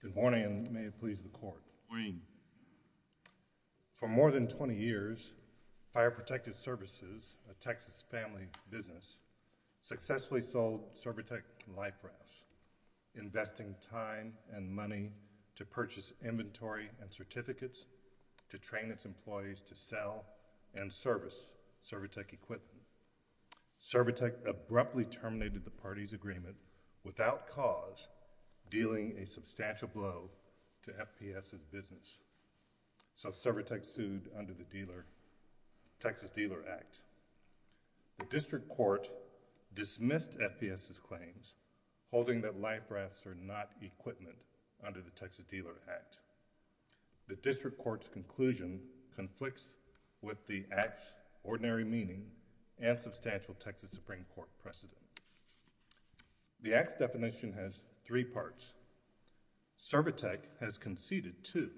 Good morning and may it please the Court. For more than 20 years, Fire Protective Services, a Texas family business, successfully sold Survitec life rafts, investing time and money to purchase inventory and certificates to train its employees to sell and service Survitec equipment. Survitec abruptly terminated the party's agreement without cause, dealing a substantial blow to FPS's business. So, Survitec sued under the Texas Dealer Act. The District Court dismissed FPS's claims, holding that life rafts are not equipment under the Texas Dealer Act. The District Court's conclusion conflicts with the Act's ordinary meaning and substantial Texas Supreme Court precedent. The Act's definition has three parts. Survitec has conceded two,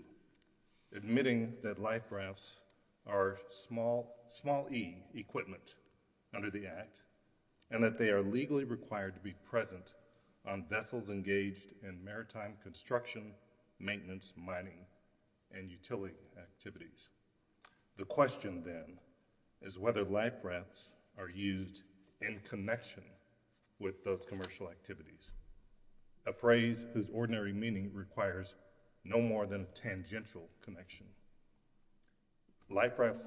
admitting that life rafts are small e equipment under the Act and that they are legally required to be present on vessels engaged in maritime life rafts are used in connection with those commercial activities. A phrase whose ordinary meaning requires no more than a tangential connection. Life rafts...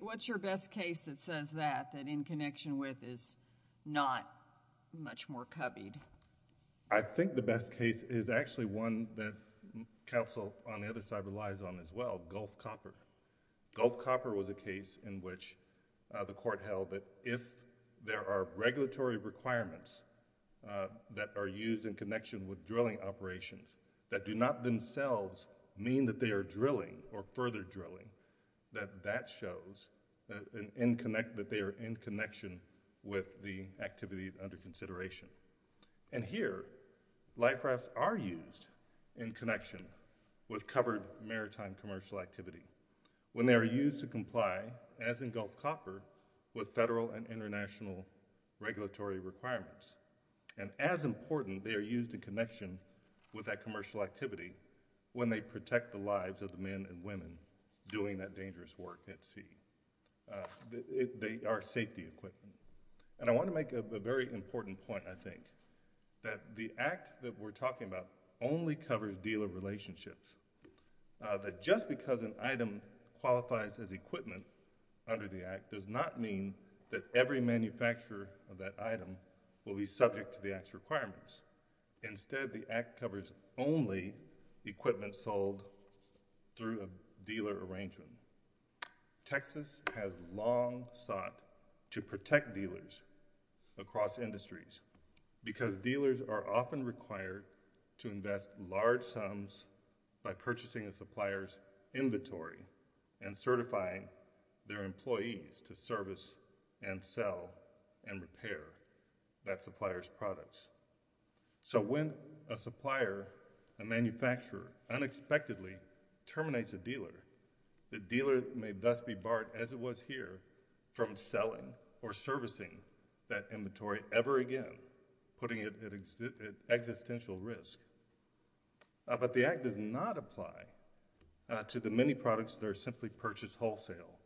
What's your best case that says that, that in connection with is not much more cubbied? I think the best case is actually one that counsel on the other side relies on as well, called Gulf Copper. Gulf Copper was a case in which the court held that if there are regulatory requirements that are used in connection with drilling operations that do not themselves mean that they are drilling or further drilling, that that shows that they are in connection with the activity under consideration. And here, life rafts are used in connection with covered maritime commercial activity when they are used to comply, as in Gulf Copper, with federal and international regulatory requirements. And as important, they are used in connection with that commercial activity when they protect the lives of the men and women doing that dangerous work at sea. They are safety equipment. And I want to make a very important point, I think, that the Act that we're talking about only covers deal relationships. That just because an item qualifies as equipment under the Act does not mean that every manufacturer of that item will be subject to the Act's requirements. Instead, the Act covers only equipment sold through a dealer arrangement. Texas has long sought to protect its owners by purchasing a supplier's inventory and certifying their employees to service and sell and repair that supplier's products. So when a supplier, a manufacturer, unexpectedly terminates a dealer, the dealer may thus be barred, as it was here, from selling or servicing that inventory ever again, putting it at existential risk. But the Act does not apply to the many products that are simply purchased wholesale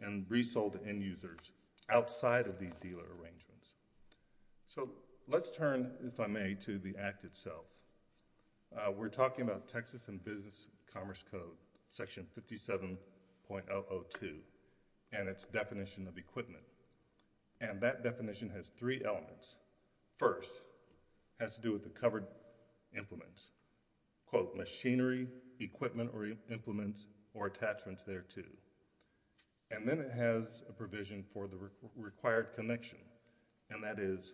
and resold to end-users outside of these dealer arrangements. So let's turn, if I may, to the Act itself. We're talking about Texas and Business Commerce Code, Section 57.002, and its definition of equipment. And that definition has three elements. First, it has to do with the covered implements, quote, machinery, equipment or implements, or attachments thereto. And then it has a provision for the required connection, and that is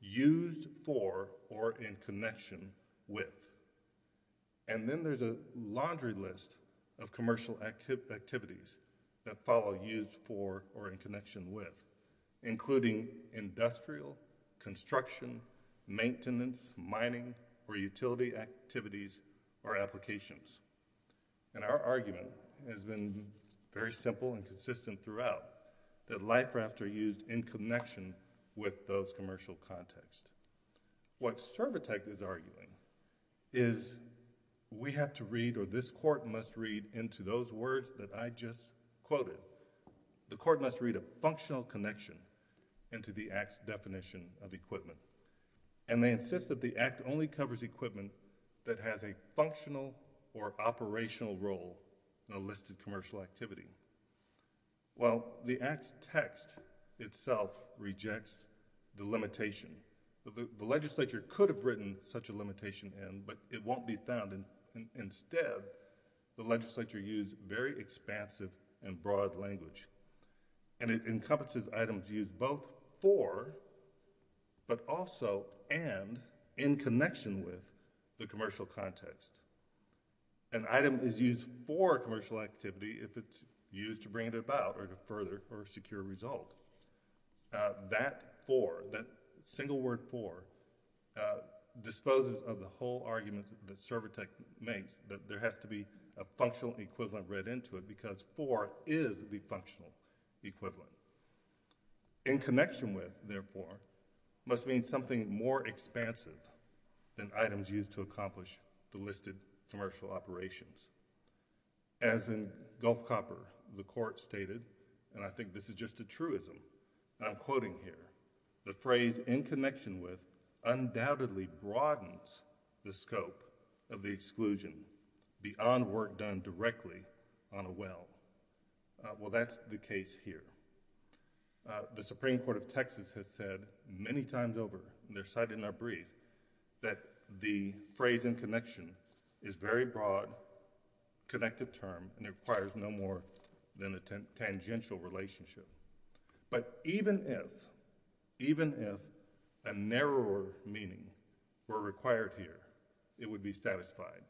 used for or in connection with. And then there's a laundry list of commercial activities that follow used for or in connection with, including industrial, construction, maintenance, mining, or utility activities or applications. And our argument has been very simple and consistent throughout, that life rafts are used in connection with those commercial contexts. What Servitec is arguing is we have to read, or this Court must read, into those words that I just quoted. The Court must read a functional connection into the Act's definition of equipment. And they insist that the Act only covers equipment that has a functional or operational role in a listed commercial activity. Well, the Act's text itself rejects the limitation. The Legislature could have written such a limitation in, but it won't be found. Instead, the Legislature used very expansive and broad language. And it encompasses items used both for, but also and in connection with the commercial context. An item is used for a commercial activity if it's used to bring it about or to further or secure a result. That for, that single word for, disposes of the whole argument that Servitec makes, that there has to be a functional equivalent read into it, because for is the functional equivalent. In connection with, therefore, must mean something more expansive than items used to accomplish the listed commercial operations. As in Gulf Copper, the Court stated, and I think this is just a truism, and I'm quoting here, the phrase in connection with undoubtedly broadens the scope of the exclusion beyond work done directly on a well. Well, that's the case here. The Supreme Court of Texas has said many times over, and they're cited in our brief, that the phrase in connection is very broad, connected term, and it requires no more than a tangential relationship. But even if, even if a narrower meaning were required here, it would be satisfied.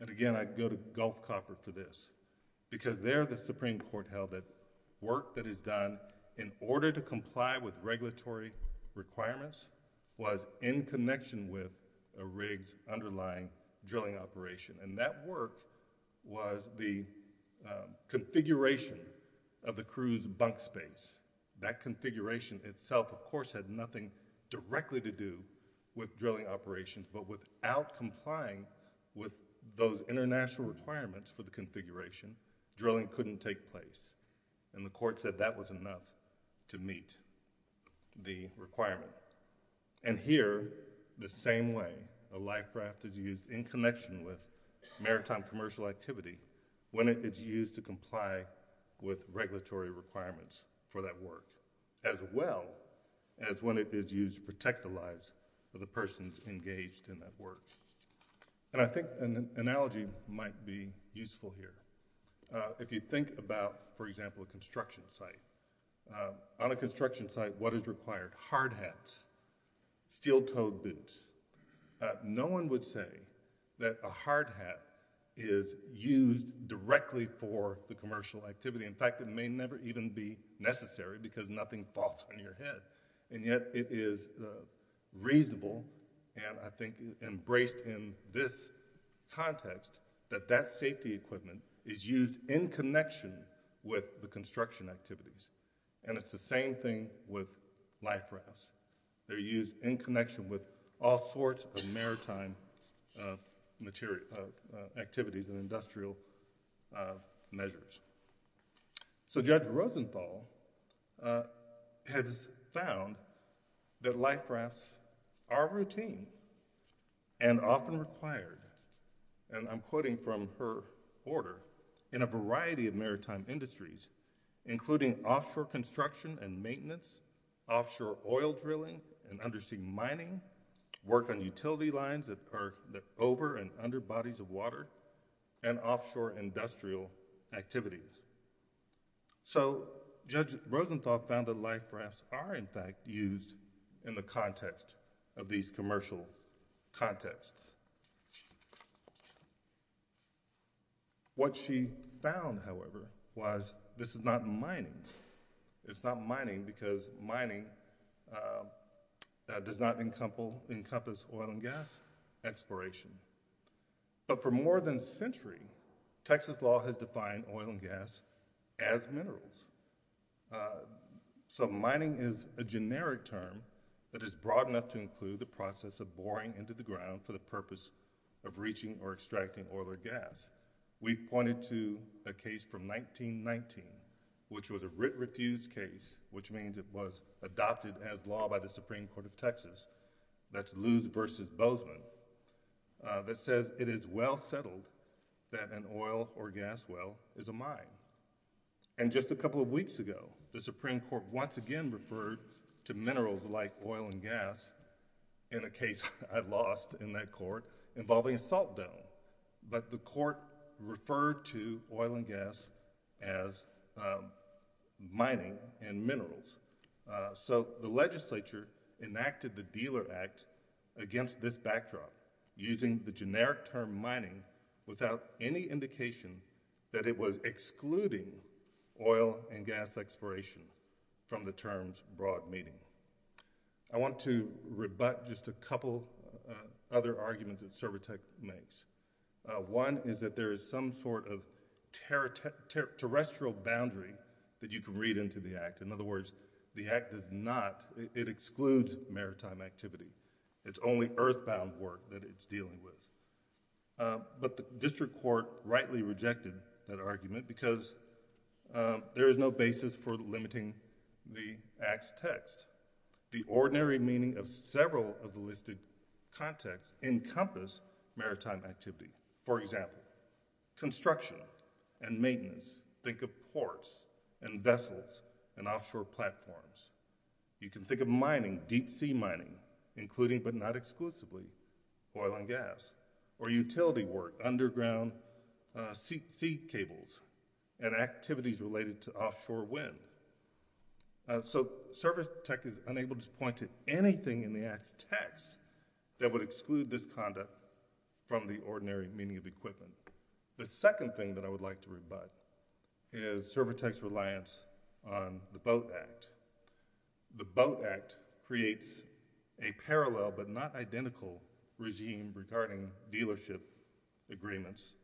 And again, I'd go to Gulf Copper for this, because there the Supreme Court held that work that is done in order to comply with regulatory requirements was in connection with a rig's underlying drilling operation. And that work was the configuration of the crew's bunk space. That configuration itself of course had nothing directly to do with drilling operations, but without complying with those international requirements for the configuration, drilling couldn't take place. And the Court said that was enough to meet the requirement. And here, the same way a life raft is used in connection with maritime commercial activity, when it is used to comply with regulatory requirements for that work, as well as when it is used to protect the lives of the persons engaged in that work. And I think an analogy might be useful here. If you think about, for example, a construction site. On a construction site, what is required? Hard hats, steel-toed boots. No one would say that a hard hat is used directly for drilling or the commercial activity. In fact, it may never even be necessary, because nothing falls on your head. And yet, it is reasonable, and I think embraced in this context, that that safety equipment is used in connection with the construction activities. And it's the same thing with life rafts. They're used in connection with all sorts of maritime activities and industrial measures. So Judge Rosenthal has found that life rafts are routine and often required, and I'm quoting from her order, in a variety of maritime industries, including offshore construction and maintenance, offshore oil drilling and undersea mining, work on utility lines that are over and under bodies of water, and offshore industrial activities. So Judge Rosenthal found that life rafts are, in fact, used in the context of these commercial contexts. What she found, however, was this is not mining. It's not mining because mining does not encompass oil and gas exploration. But for more than a century, Texas law has defined oil and gas as minerals. So mining is a generic term that is broad enough to include the process of boring into the ground for the purpose of breaching or extracting oil or gas. We pointed to a case from 1919, which was a writ refused case, which means it was adopted as law by the Supreme Court of Texas, that's Luz v. Bozeman, that says it is well settled that an oil or gas well is a mine. And just a couple of weeks ago, the Supreme Court once again referred to minerals like oil and gas in a case I lost in that court involving a salt dome. But the court referred to oil and gas as mining and minerals. So the legislature enacted the Dealer Act against this backdrop using the generic term mining without any indication that it was excluding oil and gas exploration from the term's broad meaning. I want to rebut just a couple other arguments that Cervotec makes. One is that there is some sort of terrestrial boundary that you can read into the act. In other words, the act does not, it excludes maritime activity. It's only earthbound work that it's dealing with. But the district court rightly rejected that argument because there is no basis for limiting the act's text. The ordinary meaning of several of the listed contexts encompass maritime activity. For example, construction and maintenance. Think of ports and vessels and offshore platforms. You can think of mining, deep sea mining, including but not exclusively oil and gas. Or utility work, underground sea cables and activities related to offshore wind. So Cervotec is unable to point to anything in the act's text that would exclude this conduct from the ordinary meaning of equipment. The second thing that I would like to rebut is Cervotec's reliance on the Boat Act. The Boat Act creates a parallel but not identical regime regarding dealership agreements and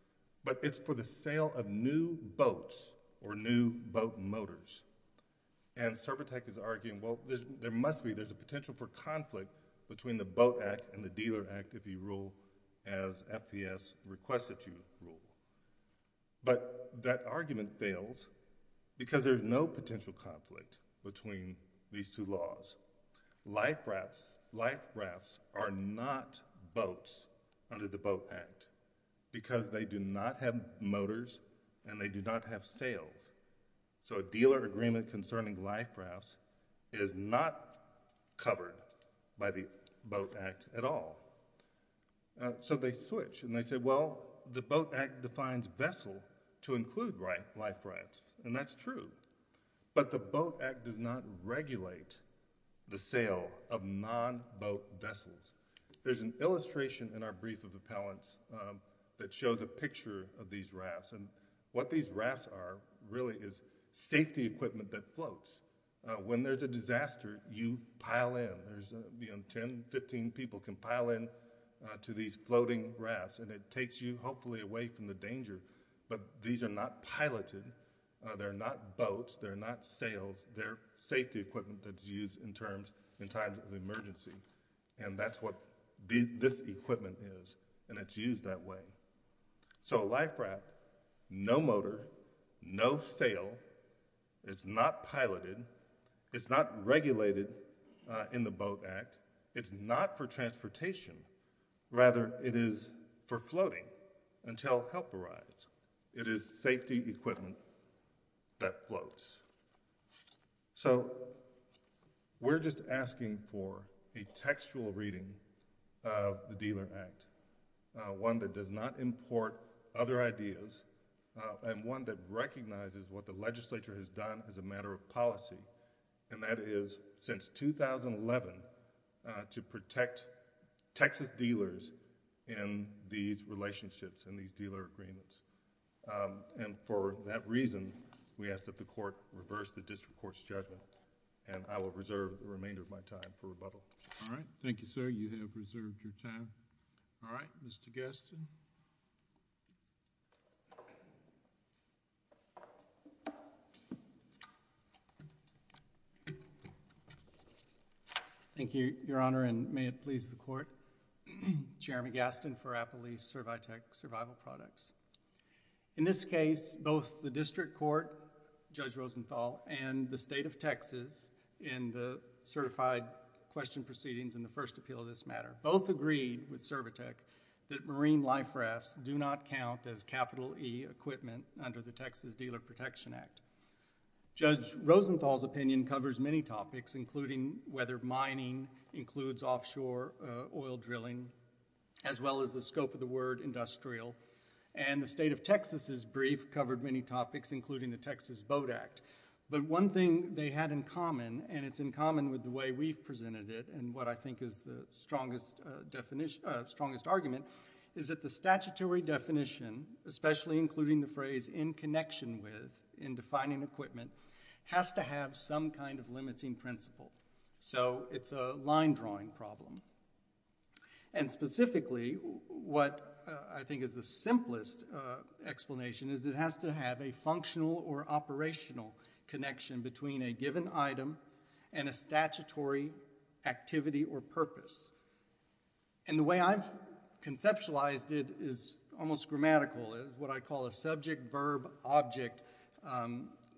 but it's for the sale of new boats or new boat motors. And Cervotec is arguing, well, there must be, there's a potential for conflict between the Boat Act and the Dealer Act if you rule as FPS requests that you rule. But that argument fails because there's no potential conflict between these two laws. Life rafts are not boats under the Boat Act because they do not have motors and they do not have sails. So a dealer agreement concerning life rafts is not covered by the Boat Act at all. So they switch and they say, well, the Boat Act defines vessel to include life rafts. And that's true. But the Boat Act does not regulate the sale of non-boat vessels. There's an illustration in our brief of appellants that shows a picture of these rafts. And what these rafts are really is safety equipment that floats. When there's a disaster, you pile in. There's, you know, 10, 15 people can pile in to these floating rafts and it takes you hopefully away from the danger. But these are not piloted. They're not boats. They're not sails. They're safety equipment that's used in terms, in times of emergency. And that's what this equipment is. And it's used that way. So a life raft, no motor, no sail. It's not piloted. It's not regulated in the Boat Act. It's not for transportation. Rather, it is for floating until help arrives. It is safety equipment that floats. So we're just asking for a textual reading of the Dealer Act, one that does not import other ideas and one that recognizes what the legislature has done as a matter of policy. And that is, since 2011, to protect Texas dealers in these relationships and these dealer agreements. And for that reason, we ask that the Court reverse the District Court's judgment. And I will reserve the remainder of my time for that. All right. Thank you, sir. You have reserved your time. All right. Mr. Gaston. Thank you, Your Honor, and may it please the Court. Jeremy Gaston for Appalachia Survitec Survival Products. In this case, both the District Court, Judge Rosenthal, and the State of Texas in the certified question proceedings in the first appeal of this matter, both agreed with Survitec that marine life rafts do not count as capital E equipment under the Texas Dealer Protection Act. Judge Rosenthal's opinion covers many topics, including whether mining includes offshore oil drilling, as well as the scope of the word industrial. And the State of Texas' brief covered many topics, including the Texas Boat Act. But one thing they had in common, and it's in common with the way we've presented it and what I think is the strongest argument, is that the statutory definition, especially including the phrase in connection with, in defining equipment, has to have some kind of limiting principle. So it's a line drawing problem. And specifically, what I think is the simplest explanation is it has to have a functional or operational connection between a given item and a statutory activity or purpose. And the way I've conceptualized it is almost grammatical, is what I call a subject-verb-object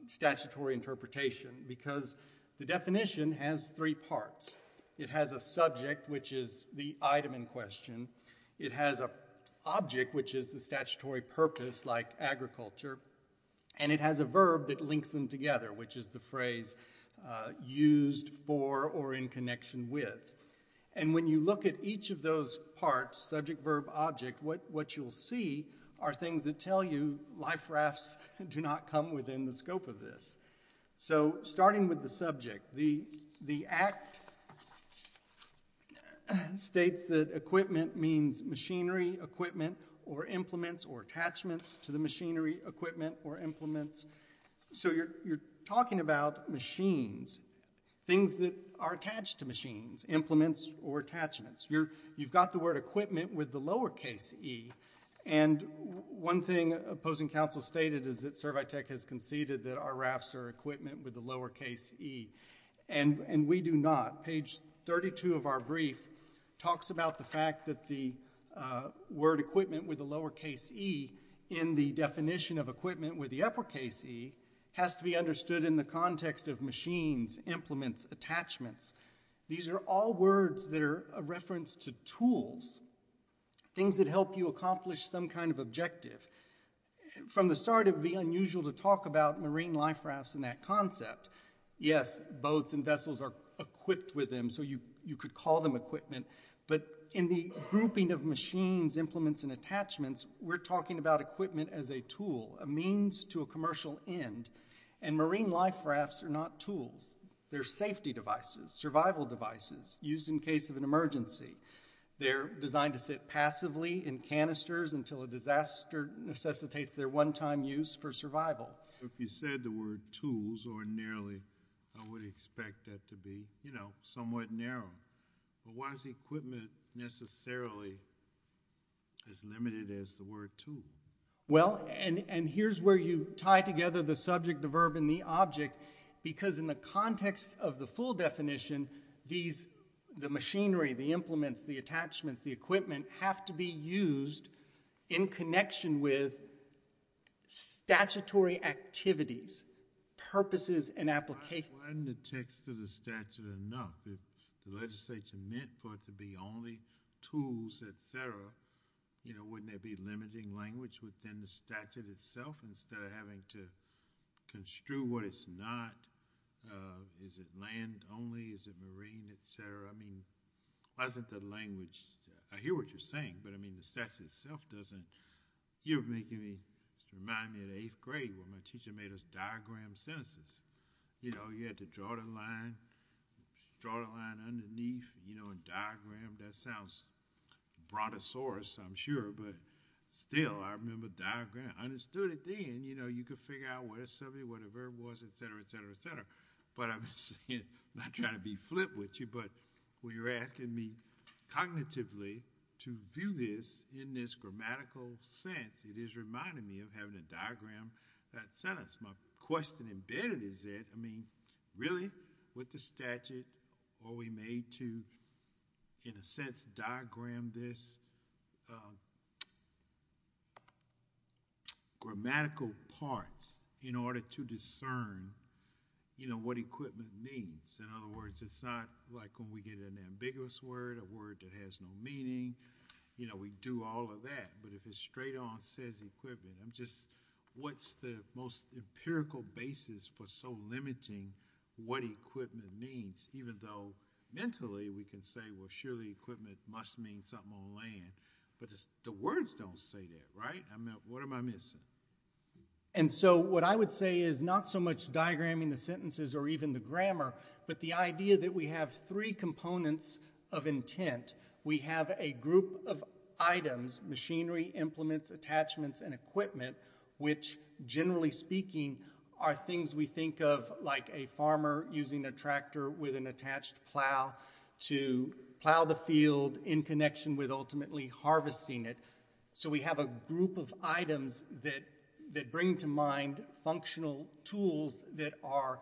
statutory interpretation, because the definition has three parts. It has a subject, which is the item in question. It has an object, which is the statutory purpose, like agriculture. And it has a verb that links them together, which is the phrase used for or in connection with. And when you look at each of those parts, subject-verb-object, what you'll see are things that tell you life rafts do not come within the scope of this. So starting with the subject, the Act states that equipment means machinery, equipment, or implements, or attachments to the machinery, equipment, or implements. So you're talking about machines, things that are attached to machines, implements, or attachments. You've got the word equipment with the lowercase e. And one thing opposing counsel stated is that Servitech has conceded that our rafts are equipment with the lowercase e. And we do not. Page 32 of our brief talks about the fact that the word equipment with the lowercase e in the definition of equipment with the uppercase e has to be understood in the context of machines, implements, attachments. These are all words that are a reference to tools, things that help you accomplish some kind of objective. From the start, it would be unusual to talk about marine life rafts in that concept. Yes, boats and vessels are equipped with them, so you could call them equipment. But in the grouping of machines, implements, and attachments, we're talking about equipment as a tool, a means to a commercial end. And marine life rafts are not tools. They're safety devices, survival devices, used in case of an emergency. They're designed to sit passively in canisters until a disaster necessitates their one-time use for survival. If you said the word tools ordinarily, I would expect that to be, you know, somewhat narrow. But why is equipment necessarily as limited as the word tool? Well, and here's where you tie together the subject, the verb, and the object, because in the context of the full definition, these, the machinery, the implements, the attachments, the equipment, have to be used in connection with statutory activities, purposes and applications. Why isn't the text of the statute enough? If the legislature meant for it to be only tools, et cetera, you know, wouldn't there be limiting language within the statute itself instead of having to construe what it's not? Is it land only? Is it marine, et cetera? I mean, why isn't the language, I hear what you're saying, but I mean, the statute itself doesn't, you're making me, remind me of the eighth grade when my teacher made us diagram sentences. You know, you had to draw the line, draw the line underneath, you know, and diagram, that sounds brontosaurus, I'm sure, but still, I remember diagram. I understood it then, you know, you could figure out what a subject, what a verb was, et cetera, et cetera, et cetera, but I'm saying, not trying to be flip with you, but when you're asking me cognitively to view this in this grammatical sense, it is reminding me of having to diagram that sentence. My question embedded is that, I mean, really, with the statute, are we made to, in a sense, diagram this, grammatical parts in order to discern, you know, what equipment means? In other words, it's not like when we get an ambiguous word, a word that has no meaning, you know, we do all of that, but if it's straight on, says equipment, I'm just, what's the most empirical basis for so limiting what equipment means, even though, mentally, we can say, well, surely equipment must mean something on land, but the words don't say that, right? I mean, what am I missing? And so, what I would say is, not so much diagramming the sentences or even the grammar, but the idea that we have three components of intent. We have a group of items, machinery, implements, attachments, and equipment, which, generally speaking, are things we think of like a farmer using a tractor with an attached plow to plow the field in connection with ultimately harvesting it. So, we have a group of items that bring to mind functional tools that are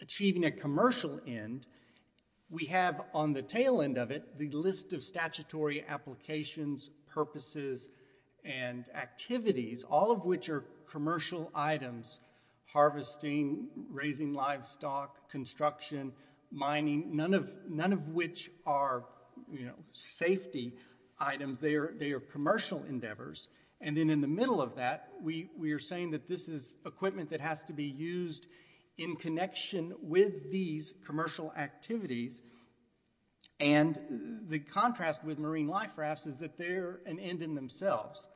achieving a commercial end. We have, on the tail end of it, the list of statutory applications, purposes, and activities, all of which are commercial items, harvesting, raising livestock, construction, mining, none of which are safety items. They are commercial endeavors, and then in the middle of that, we are saying that this is equipment that has to be used in connection with these commercial activities, and the contrast with marine life rafts is that they're an end in themselves.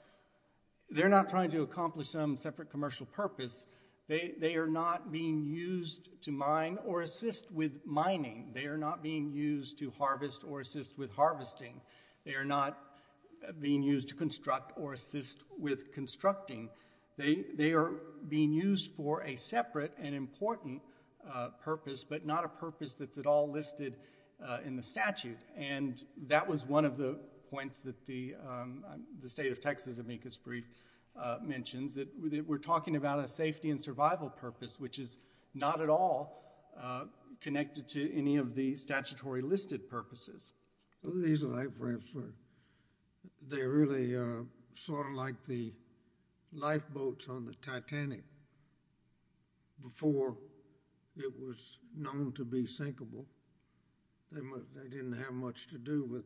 They're not trying to accomplish some separate commercial purpose. They are not being used to mine or assist with mining. They are not being used to harvest or assist with harvesting. They are not being used to construct or assist with constructing. They are being used for a separate and important purpose, but not a purpose that's at all listed in the statute, and that was one of the points that the State of Texas amicus brief mentions, that we're talking about a safety and survival purpose, which is not at all connected to any of the statutory listed purposes. These life rafts, they're really sort of like the lifeboats on the Titanic. Before it was known to be sinkable, they didn't have much to do with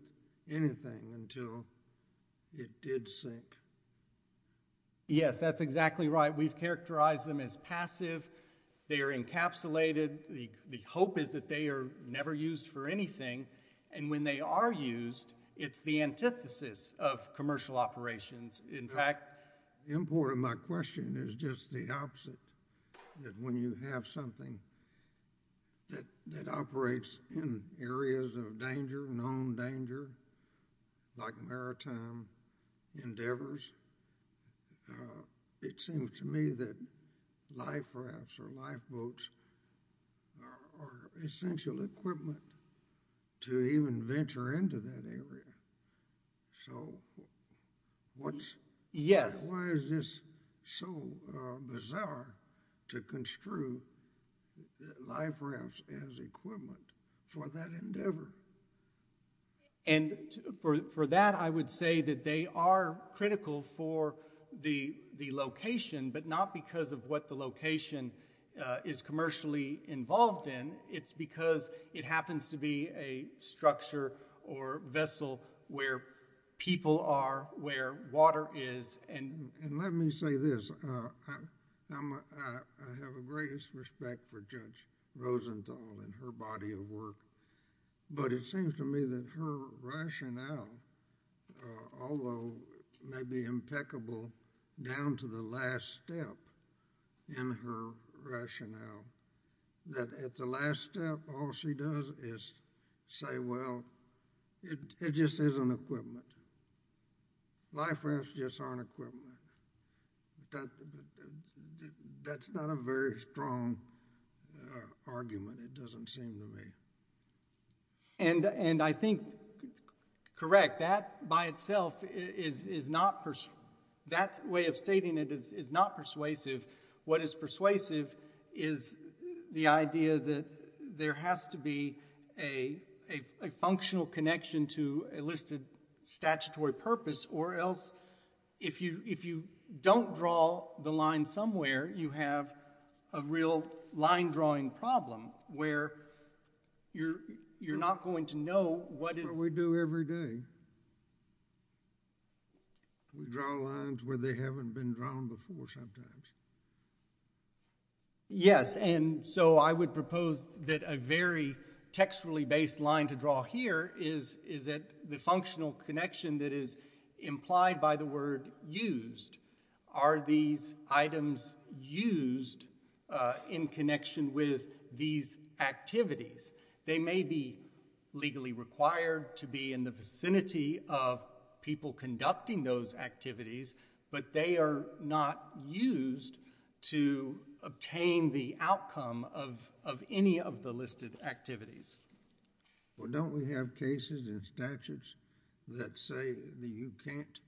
anything until it did sink. Yes, that's exactly right. We've characterized them as passive. They are encapsulated. The hope is that they are never used for anything, and when they are used, it's the antithesis of commercial operations. In fact, The import of my question is just the opposite, that when you have something that operates in areas of danger, known danger, like maritime endeavors, it seems to me that life rafts or lifeboats are essential equipment to even venture into that area, so why is this so important for that endeavor? For that, I would say that they are critical for the location, but not because of what the location is commercially involved in. It's because it happens to be a structure or vessel where people are, where water is. Let me say this. I have the greatest respect for Judge Rosenthal and her body of work. It seems to me that her rationale, although maybe impeccable down to the last step in her rationale, that at the last step, all she does is say, well, it just isn't equipment. Life rafts just aren't equipment. That's not a very strong argument, it doesn't seem to And I think, correct, that by itself is not, that way of stating it is not persuasive. What is persuasive is the idea that there has to be a functional connection to a listed statutory purpose or else if you don't draw the line somewhere, you have a real line drawing problem, where you're not going to know what is That's what we do every day. We draw lines where they haven't been drawn before sometimes. Yes, and so I would propose that a very textually based line to draw here is that the functional connection that is implied by the word used, are these items used in connection with the these activities? They may be legally required to be in the vicinity of people conducting those activities, but they are not used to obtain the outcome of any of the listed activities. Well, don't we have cases and statutes that say that you can't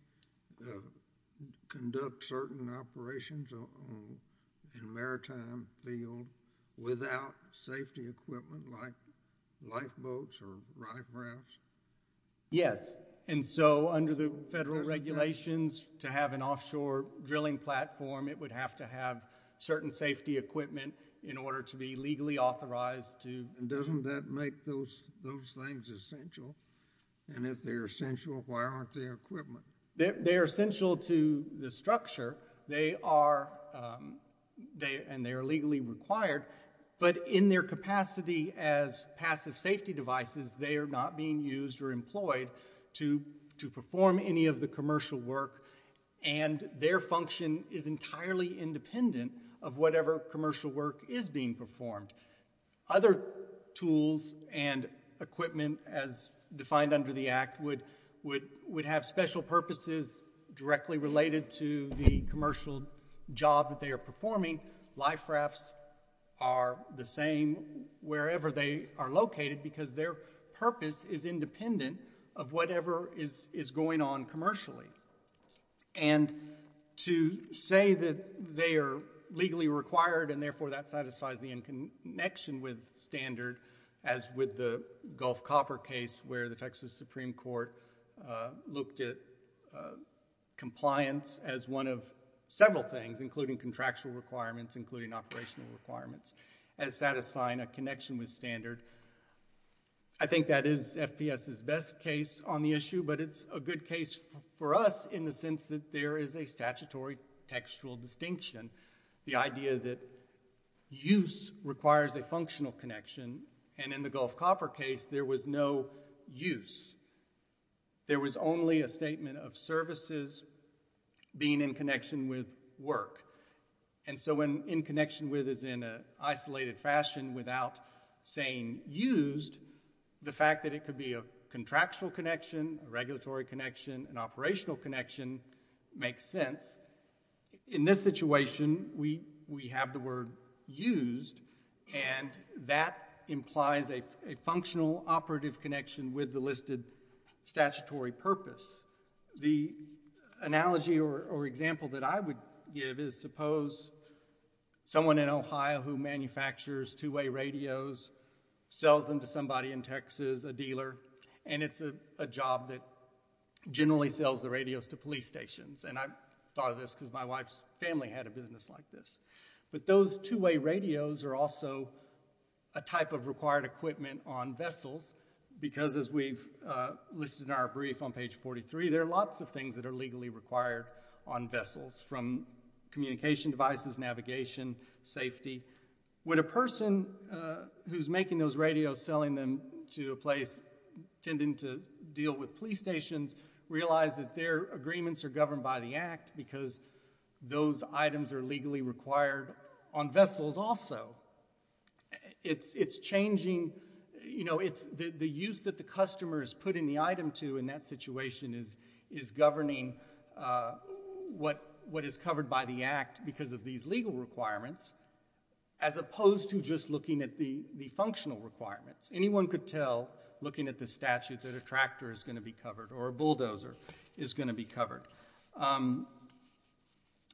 conduct certain operations in a maritime field without safety equipment like lifeboats or life rafts? Yes, and so under the federal regulations to have an offshore drilling platform, it would have to have certain safety equipment in order to be legally authorized to And doesn't that make those things essential? And if they're essential, why aren't they essential to the structure? They are, and they are legally required, but in their capacity as passive safety devices, they are not being used or employed to perform any of the commercial work, and their function is entirely independent of whatever commercial work is being performed. Other tools and equipment as defined under the Act would have special purposes to be directly related to the commercial job that they are performing. Life rafts are the same wherever they are located because their purpose is independent of whatever is going on commercially. And to say that they are legally required and therefore that satisfies the in connection with standard as with the Gulf Copper case where the Texas Supreme Court looked at the compliance as one of several things, including contractual requirements, including operational requirements, as satisfying a connection with standard, I think that is FPS's best case on the issue, but it's a good case for us in the sense that there is a statutory textual distinction, the idea that use requires a functional connection, and in the Gulf Copper case, there was no use. There was only a statement of services being in connection with work, and so when in connection with is in an isolated fashion without saying used, the fact that it could be a contractual connection, a regulatory connection, an operational connection makes sense. In this situation, we have the word used, and that implies a functional connection with the listed statutory purpose. The analogy or example that I would give is suppose someone in Ohio who manufactures two-way radios, sells them to somebody in Texas, a dealer, and it's a job that generally sells the radios to police stations, and I thought of this because my wife's family had a business like this. But those two-way radios are also a type of required equipment on vessels, because as we've listed in our brief on page 43, there are lots of things that are legally required on vessels, from communication devices, navigation, safety. Would a person who's making those radios, selling them to a place, intending to deal with police stations, realize that their agreements are governed by the act because those items are legally required on vessels also? It's changing, the use that the customer is putting the item to in that situation is governing what is covered by the act because of these legal requirements, as opposed to just looking at the functional requirements. Anyone could tell looking at the statute that a tractor is going to be covered, or a bulldozer is going to be covered.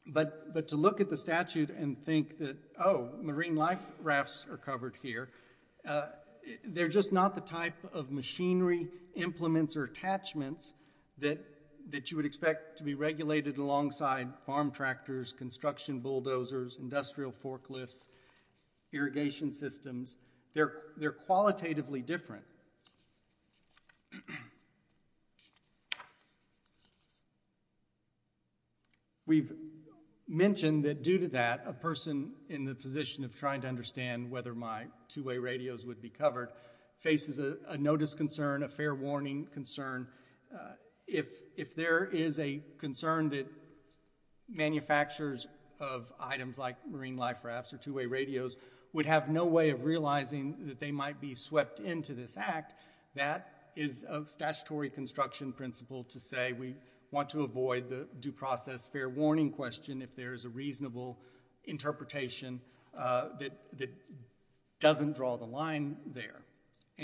But to look at the statute and think that, oh, marine life rafts are covered here, they're just not the type of machinery, implements, or attachments that you would expect to be regulated alongside farm tractors, construction bulldozers, industrial forklifts, irrigation systems. They're qualitatively different. We've mentioned that due to that, a person in the position of trying to understand whether my two-way radios would be covered faces a notice concern, a fair warning concern. If there is a concern that manufacturers of items like marine life rafts or two-way radios would have no way of realizing that they might be swept into this act, that is a statutory construction principle to say we want to avoid the due process fair warning question if there is a reasonable interpretation that doesn't draw the line there.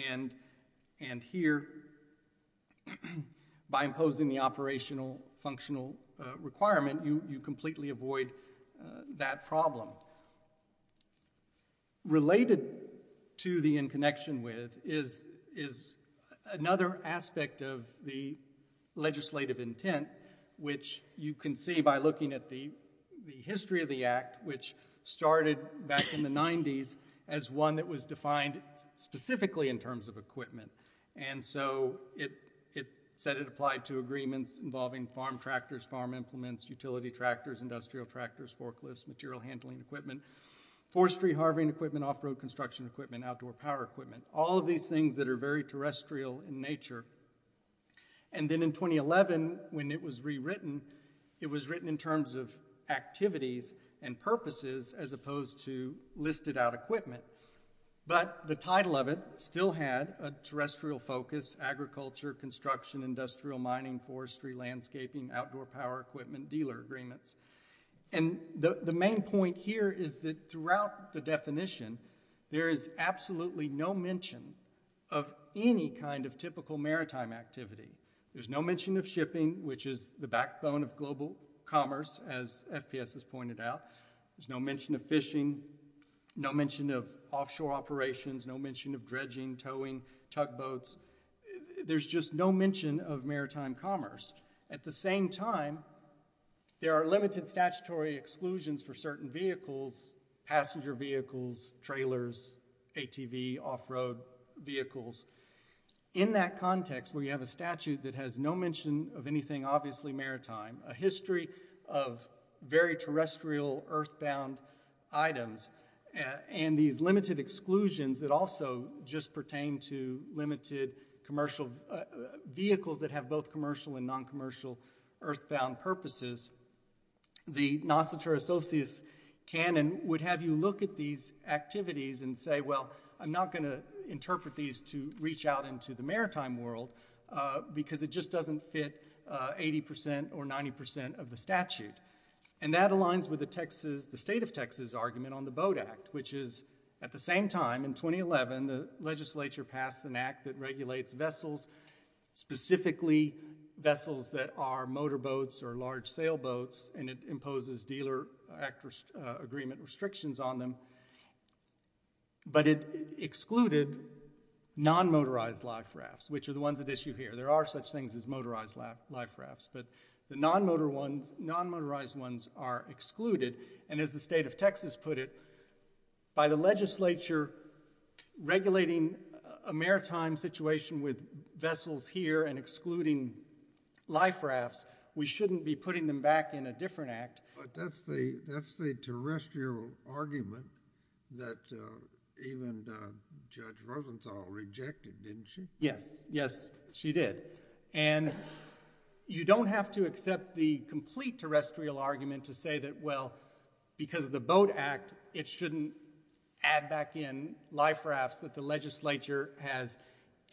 And here, by imposing the operational functional requirement, you completely avoid that problem. Now, related to the in connection with is another aspect of the legislative intent, which you can see by looking at the history of the act, which started back in the 90s as one that was defined specifically in terms of equipment. And so it said it applied to agreements involving farm tractors, farm implements, utility tractors, industrial tractors, forklifts, material handling equipment, forestry, harving equipment, off-road construction equipment, outdoor power equipment, all of these things that are very terrestrial in nature. And then in 2011, when it was rewritten, it was written in terms of activities and purposes as opposed to listed out equipment. But the title of it still had a terrestrial focus, agriculture, construction, industrial mining, forestry, landscaping, outdoor power equipment, dealer agreements. And the main point here is that throughout the definition, there is absolutely no mention of any kind of typical maritime activity. There's no mention of shipping, which is the backbone of global commerce, as FPS has pointed out. There's no mention of fishing, no mention of offshore operations, no mention of dredging, towing, tugboats. There's just no mention of maritime commerce. At the same time, there are limited statutory exclusions for certain vehicles, passenger vehicles, trailers, ATV, off-road vehicles. In that context, where you have a statute that has no mention of anything obviously maritime, a history of very terrestrial, earthbound items, and these limited exclusions that also just pertain to limited commercial vehicles that have both commercial and non-commercial earthbound purposes, the Nocitor Associus canon would have you look at these activities and say, well, I'm not going to interpret these to reach out into the maritime world because it just doesn't fit 80% or 90% of the statute. And that aligns with the Texas, the state of Texas argument on the Boat Act, which is, at the same time, in 2011, the legislature passed an act that regulates vessels, specifically vessels that are motorboats or large sailboats, and it imposes dealer agreement restrictions on them. But it excluded non-motorized life rafts, which are the ones at issue here. There are such things as motorized life rafts, but the non-motorized ones are excluded. And as the state of Texas put it, by the legislature regulating a maritime situation with vessels here and excluding life rafts, we shouldn't be putting them back in a different act. But that's the terrestrial argument that even Judge Rosenthal rejected, didn't she? Yes, yes, she did. And you don't have to accept the complete terrestrial argument to say that, well, because of the Boat Act, it shouldn't add back in life rafts that the legislature has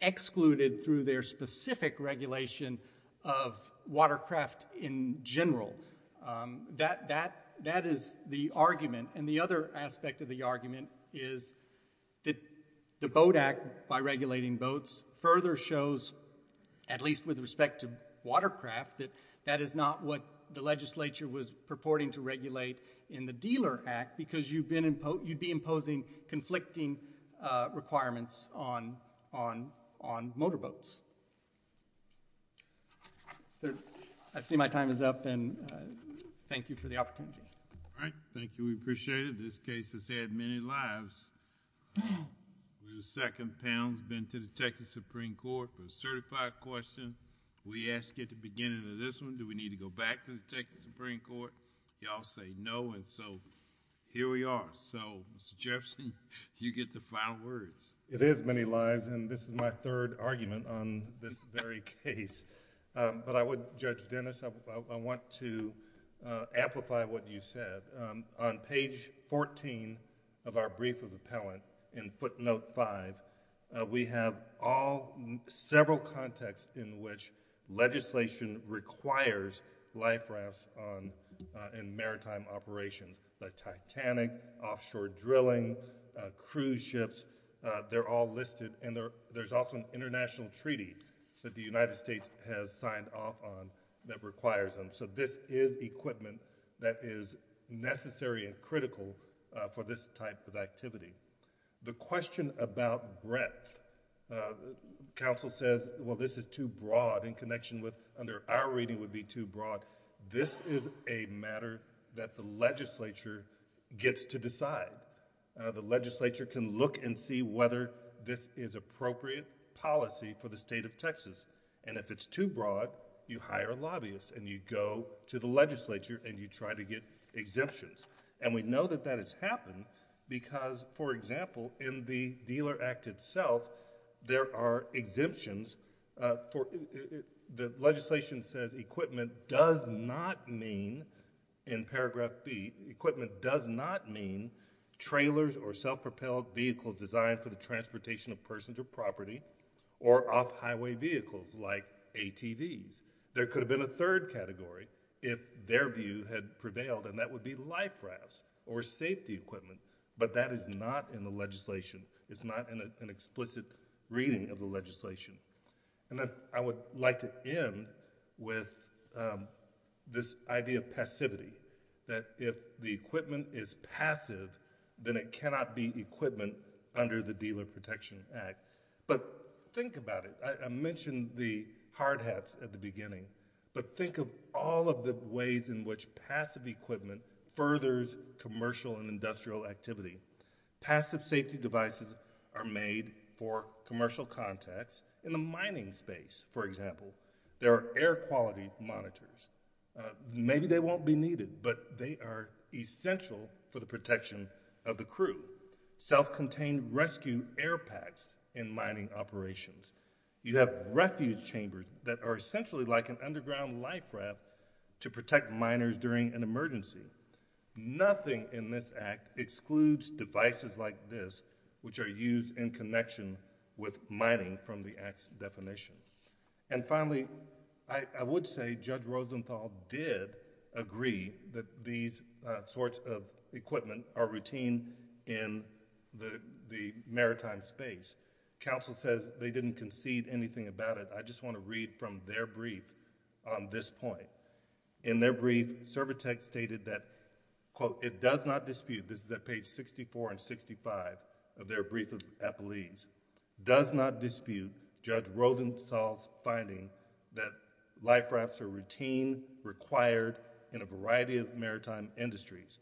excluded through their specific regulation of watercraft in general. That is the argument. And the other aspect of the argument is that the Boat Act, by regulating boats, further shows, at least with respect to watercraft, that that is not what the legislature was purporting to regulate in the Dealer Act, because you'd be imposing conflicting requirements on motorboats. Sir, I see my time is up, and thank you for the opportunity. All right, thank you. We appreciate it. This case has had many lives. We're the second panel that's been to the Texas Supreme Court for a certified question. We asked at the beginning of this one, do we need to go back to the Texas Supreme Court? Y'all say no, and so here we are. So, Mr. Jefferson, you get the final words. It is many lives, and this is my third argument on this very case. But I would, Judge Dennis, I want to amplify what you said. On page 14 of our brief of appellant, in footnote 5, we have all, several contexts in which legislation requires life rafts in maritime operations like Titanic, offshore drilling, cruise ships. They're all listed, and there's also an international treaty that the United States has signed off on that requires them. So this is equipment that is necessary and critical for this type of activity. The question about breadth, counsel says, well, this is too broad in connection with, under our reading would be too broad. This is a matter that the legislature gets to decide. The legislature can look and see whether this is appropriate policy for the state of Texas. And if it's too broad, you hire a lobbyist and you go to the legislature and you try to get exemptions. And we know that that has happened because, for example, in the Dealer Act itself, there are exemptions for, the legislation says equipment does not mean, in paragraph B, equipment does not mean trailers or self-propelled vehicles designed for the transportation of persons or property or off-highway vehicles like ATVs. There could have been a third category if their view had prevailed, and that would be life rafts or safety equipment. But that is not in the legislation. It's not in an explicit reading of the legislation. And then I would like to end with this idea of passivity, that if the equipment is passive, then it cannot be equipment under the Dealer Protection Act. But think about it. I mentioned the hard hats at the beginning, but think of all of the ways in which passive equipment furthers commercial and industrial activity. Passive safety devices are made for commercial contacts in the mining space, for example. There are air quality monitors. Maybe they won't be needed, but they are essential for the protection of the crew. Self-contained rescue air packs in mining operations. You have refuge chambers that are essentially like an underground life raft to protect miners during an emergency. Nothing in this Act excludes devices like this, which are used in connection with mining from the Act's definition. And finally, I would say Judge Rosenthal did agree that these sorts of equipment are routine in the maritime space. Counsel says they didn't concede anything about it. I just want to read from their brief on this point. In their brief, Cervatex stated that, quote, it does not dispute, this is at page 64 and 65 of their brief of appellees, does not dispute Judge Rosenthal's finding that life rafts are routine, required in a variety of maritime industries.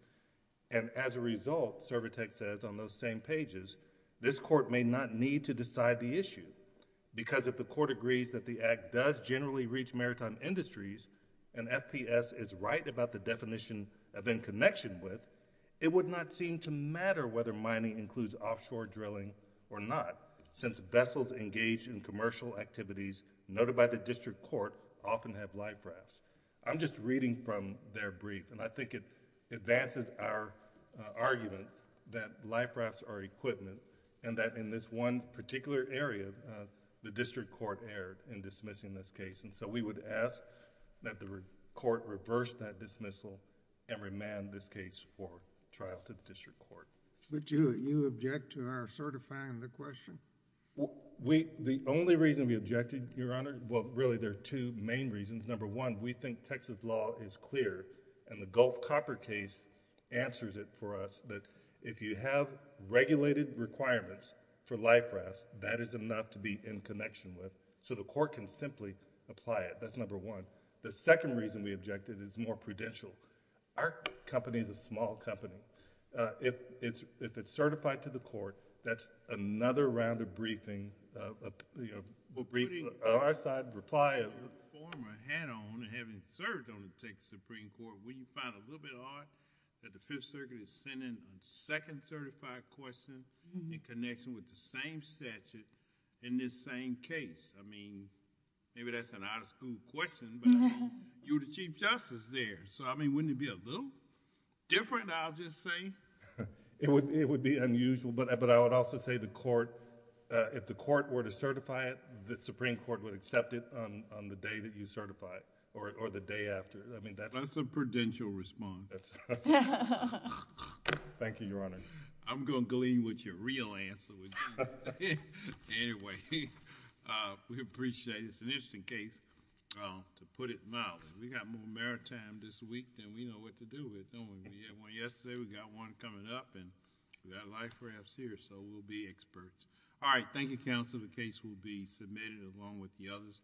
And as a result, Cervatex says on those same pages, this Court may not need to decide the issue because if the Court agrees that the Act does generally reach maritime industries and FPS is right about the definition of in connection with, it would not seem to matter whether mining includes offshore drilling or not, since vessels engaged in commercial activities noted by the District Court often have life rafts. I'm just reading from their brief and I think it advances our argument that life rafts are equipment and that in this one particular area, the District Court erred in dismissing this case. And so we would ask that the Court reverse that dismissal and remand this case for trial to the District Court. Would you object to our certifying the question? The only reason we objected, Your Honor, well, really there are two main reasons. Number one, we think Texas law is clear and the Gulf Copper case answers it for us that if you have regulated requirements for life rafts, that is enough to be in connection with, so the Court can simply apply it. That's number one. The second reason we objected is more prudential. Our company is a small company. If it's certified to the Court, that's another round of briefing, you know, brief our side, reply...... former head on and having served on the Texas Supreme Court, we find it a little bit odd that the Fifth Circuit is sending a second certified question in connection with the same statute in this same case. I mean, maybe that's an out-of-school question, but, I mean, you're the Chief Justice there, so, I mean, wouldn't it be a little different, I'll just say? It would be unusual, but I would also say the Court... if the Court were to certify it, the Supreme Court would accept it on the day that you certify it, or the day after. I mean, that's... That's a prudential response. Thank you, Your Honor. I'm going to glean what your real answer would be. Anyway, we appreciate it. It's an interesting case, to put it mildly. We've got more maritime this week than we know what to do with, don't we? We had one yesterday, we've got one coming up, and we've got life rafts here, so we'll be experts. All right, thank you, Counselor. The case will be submitted along with the others.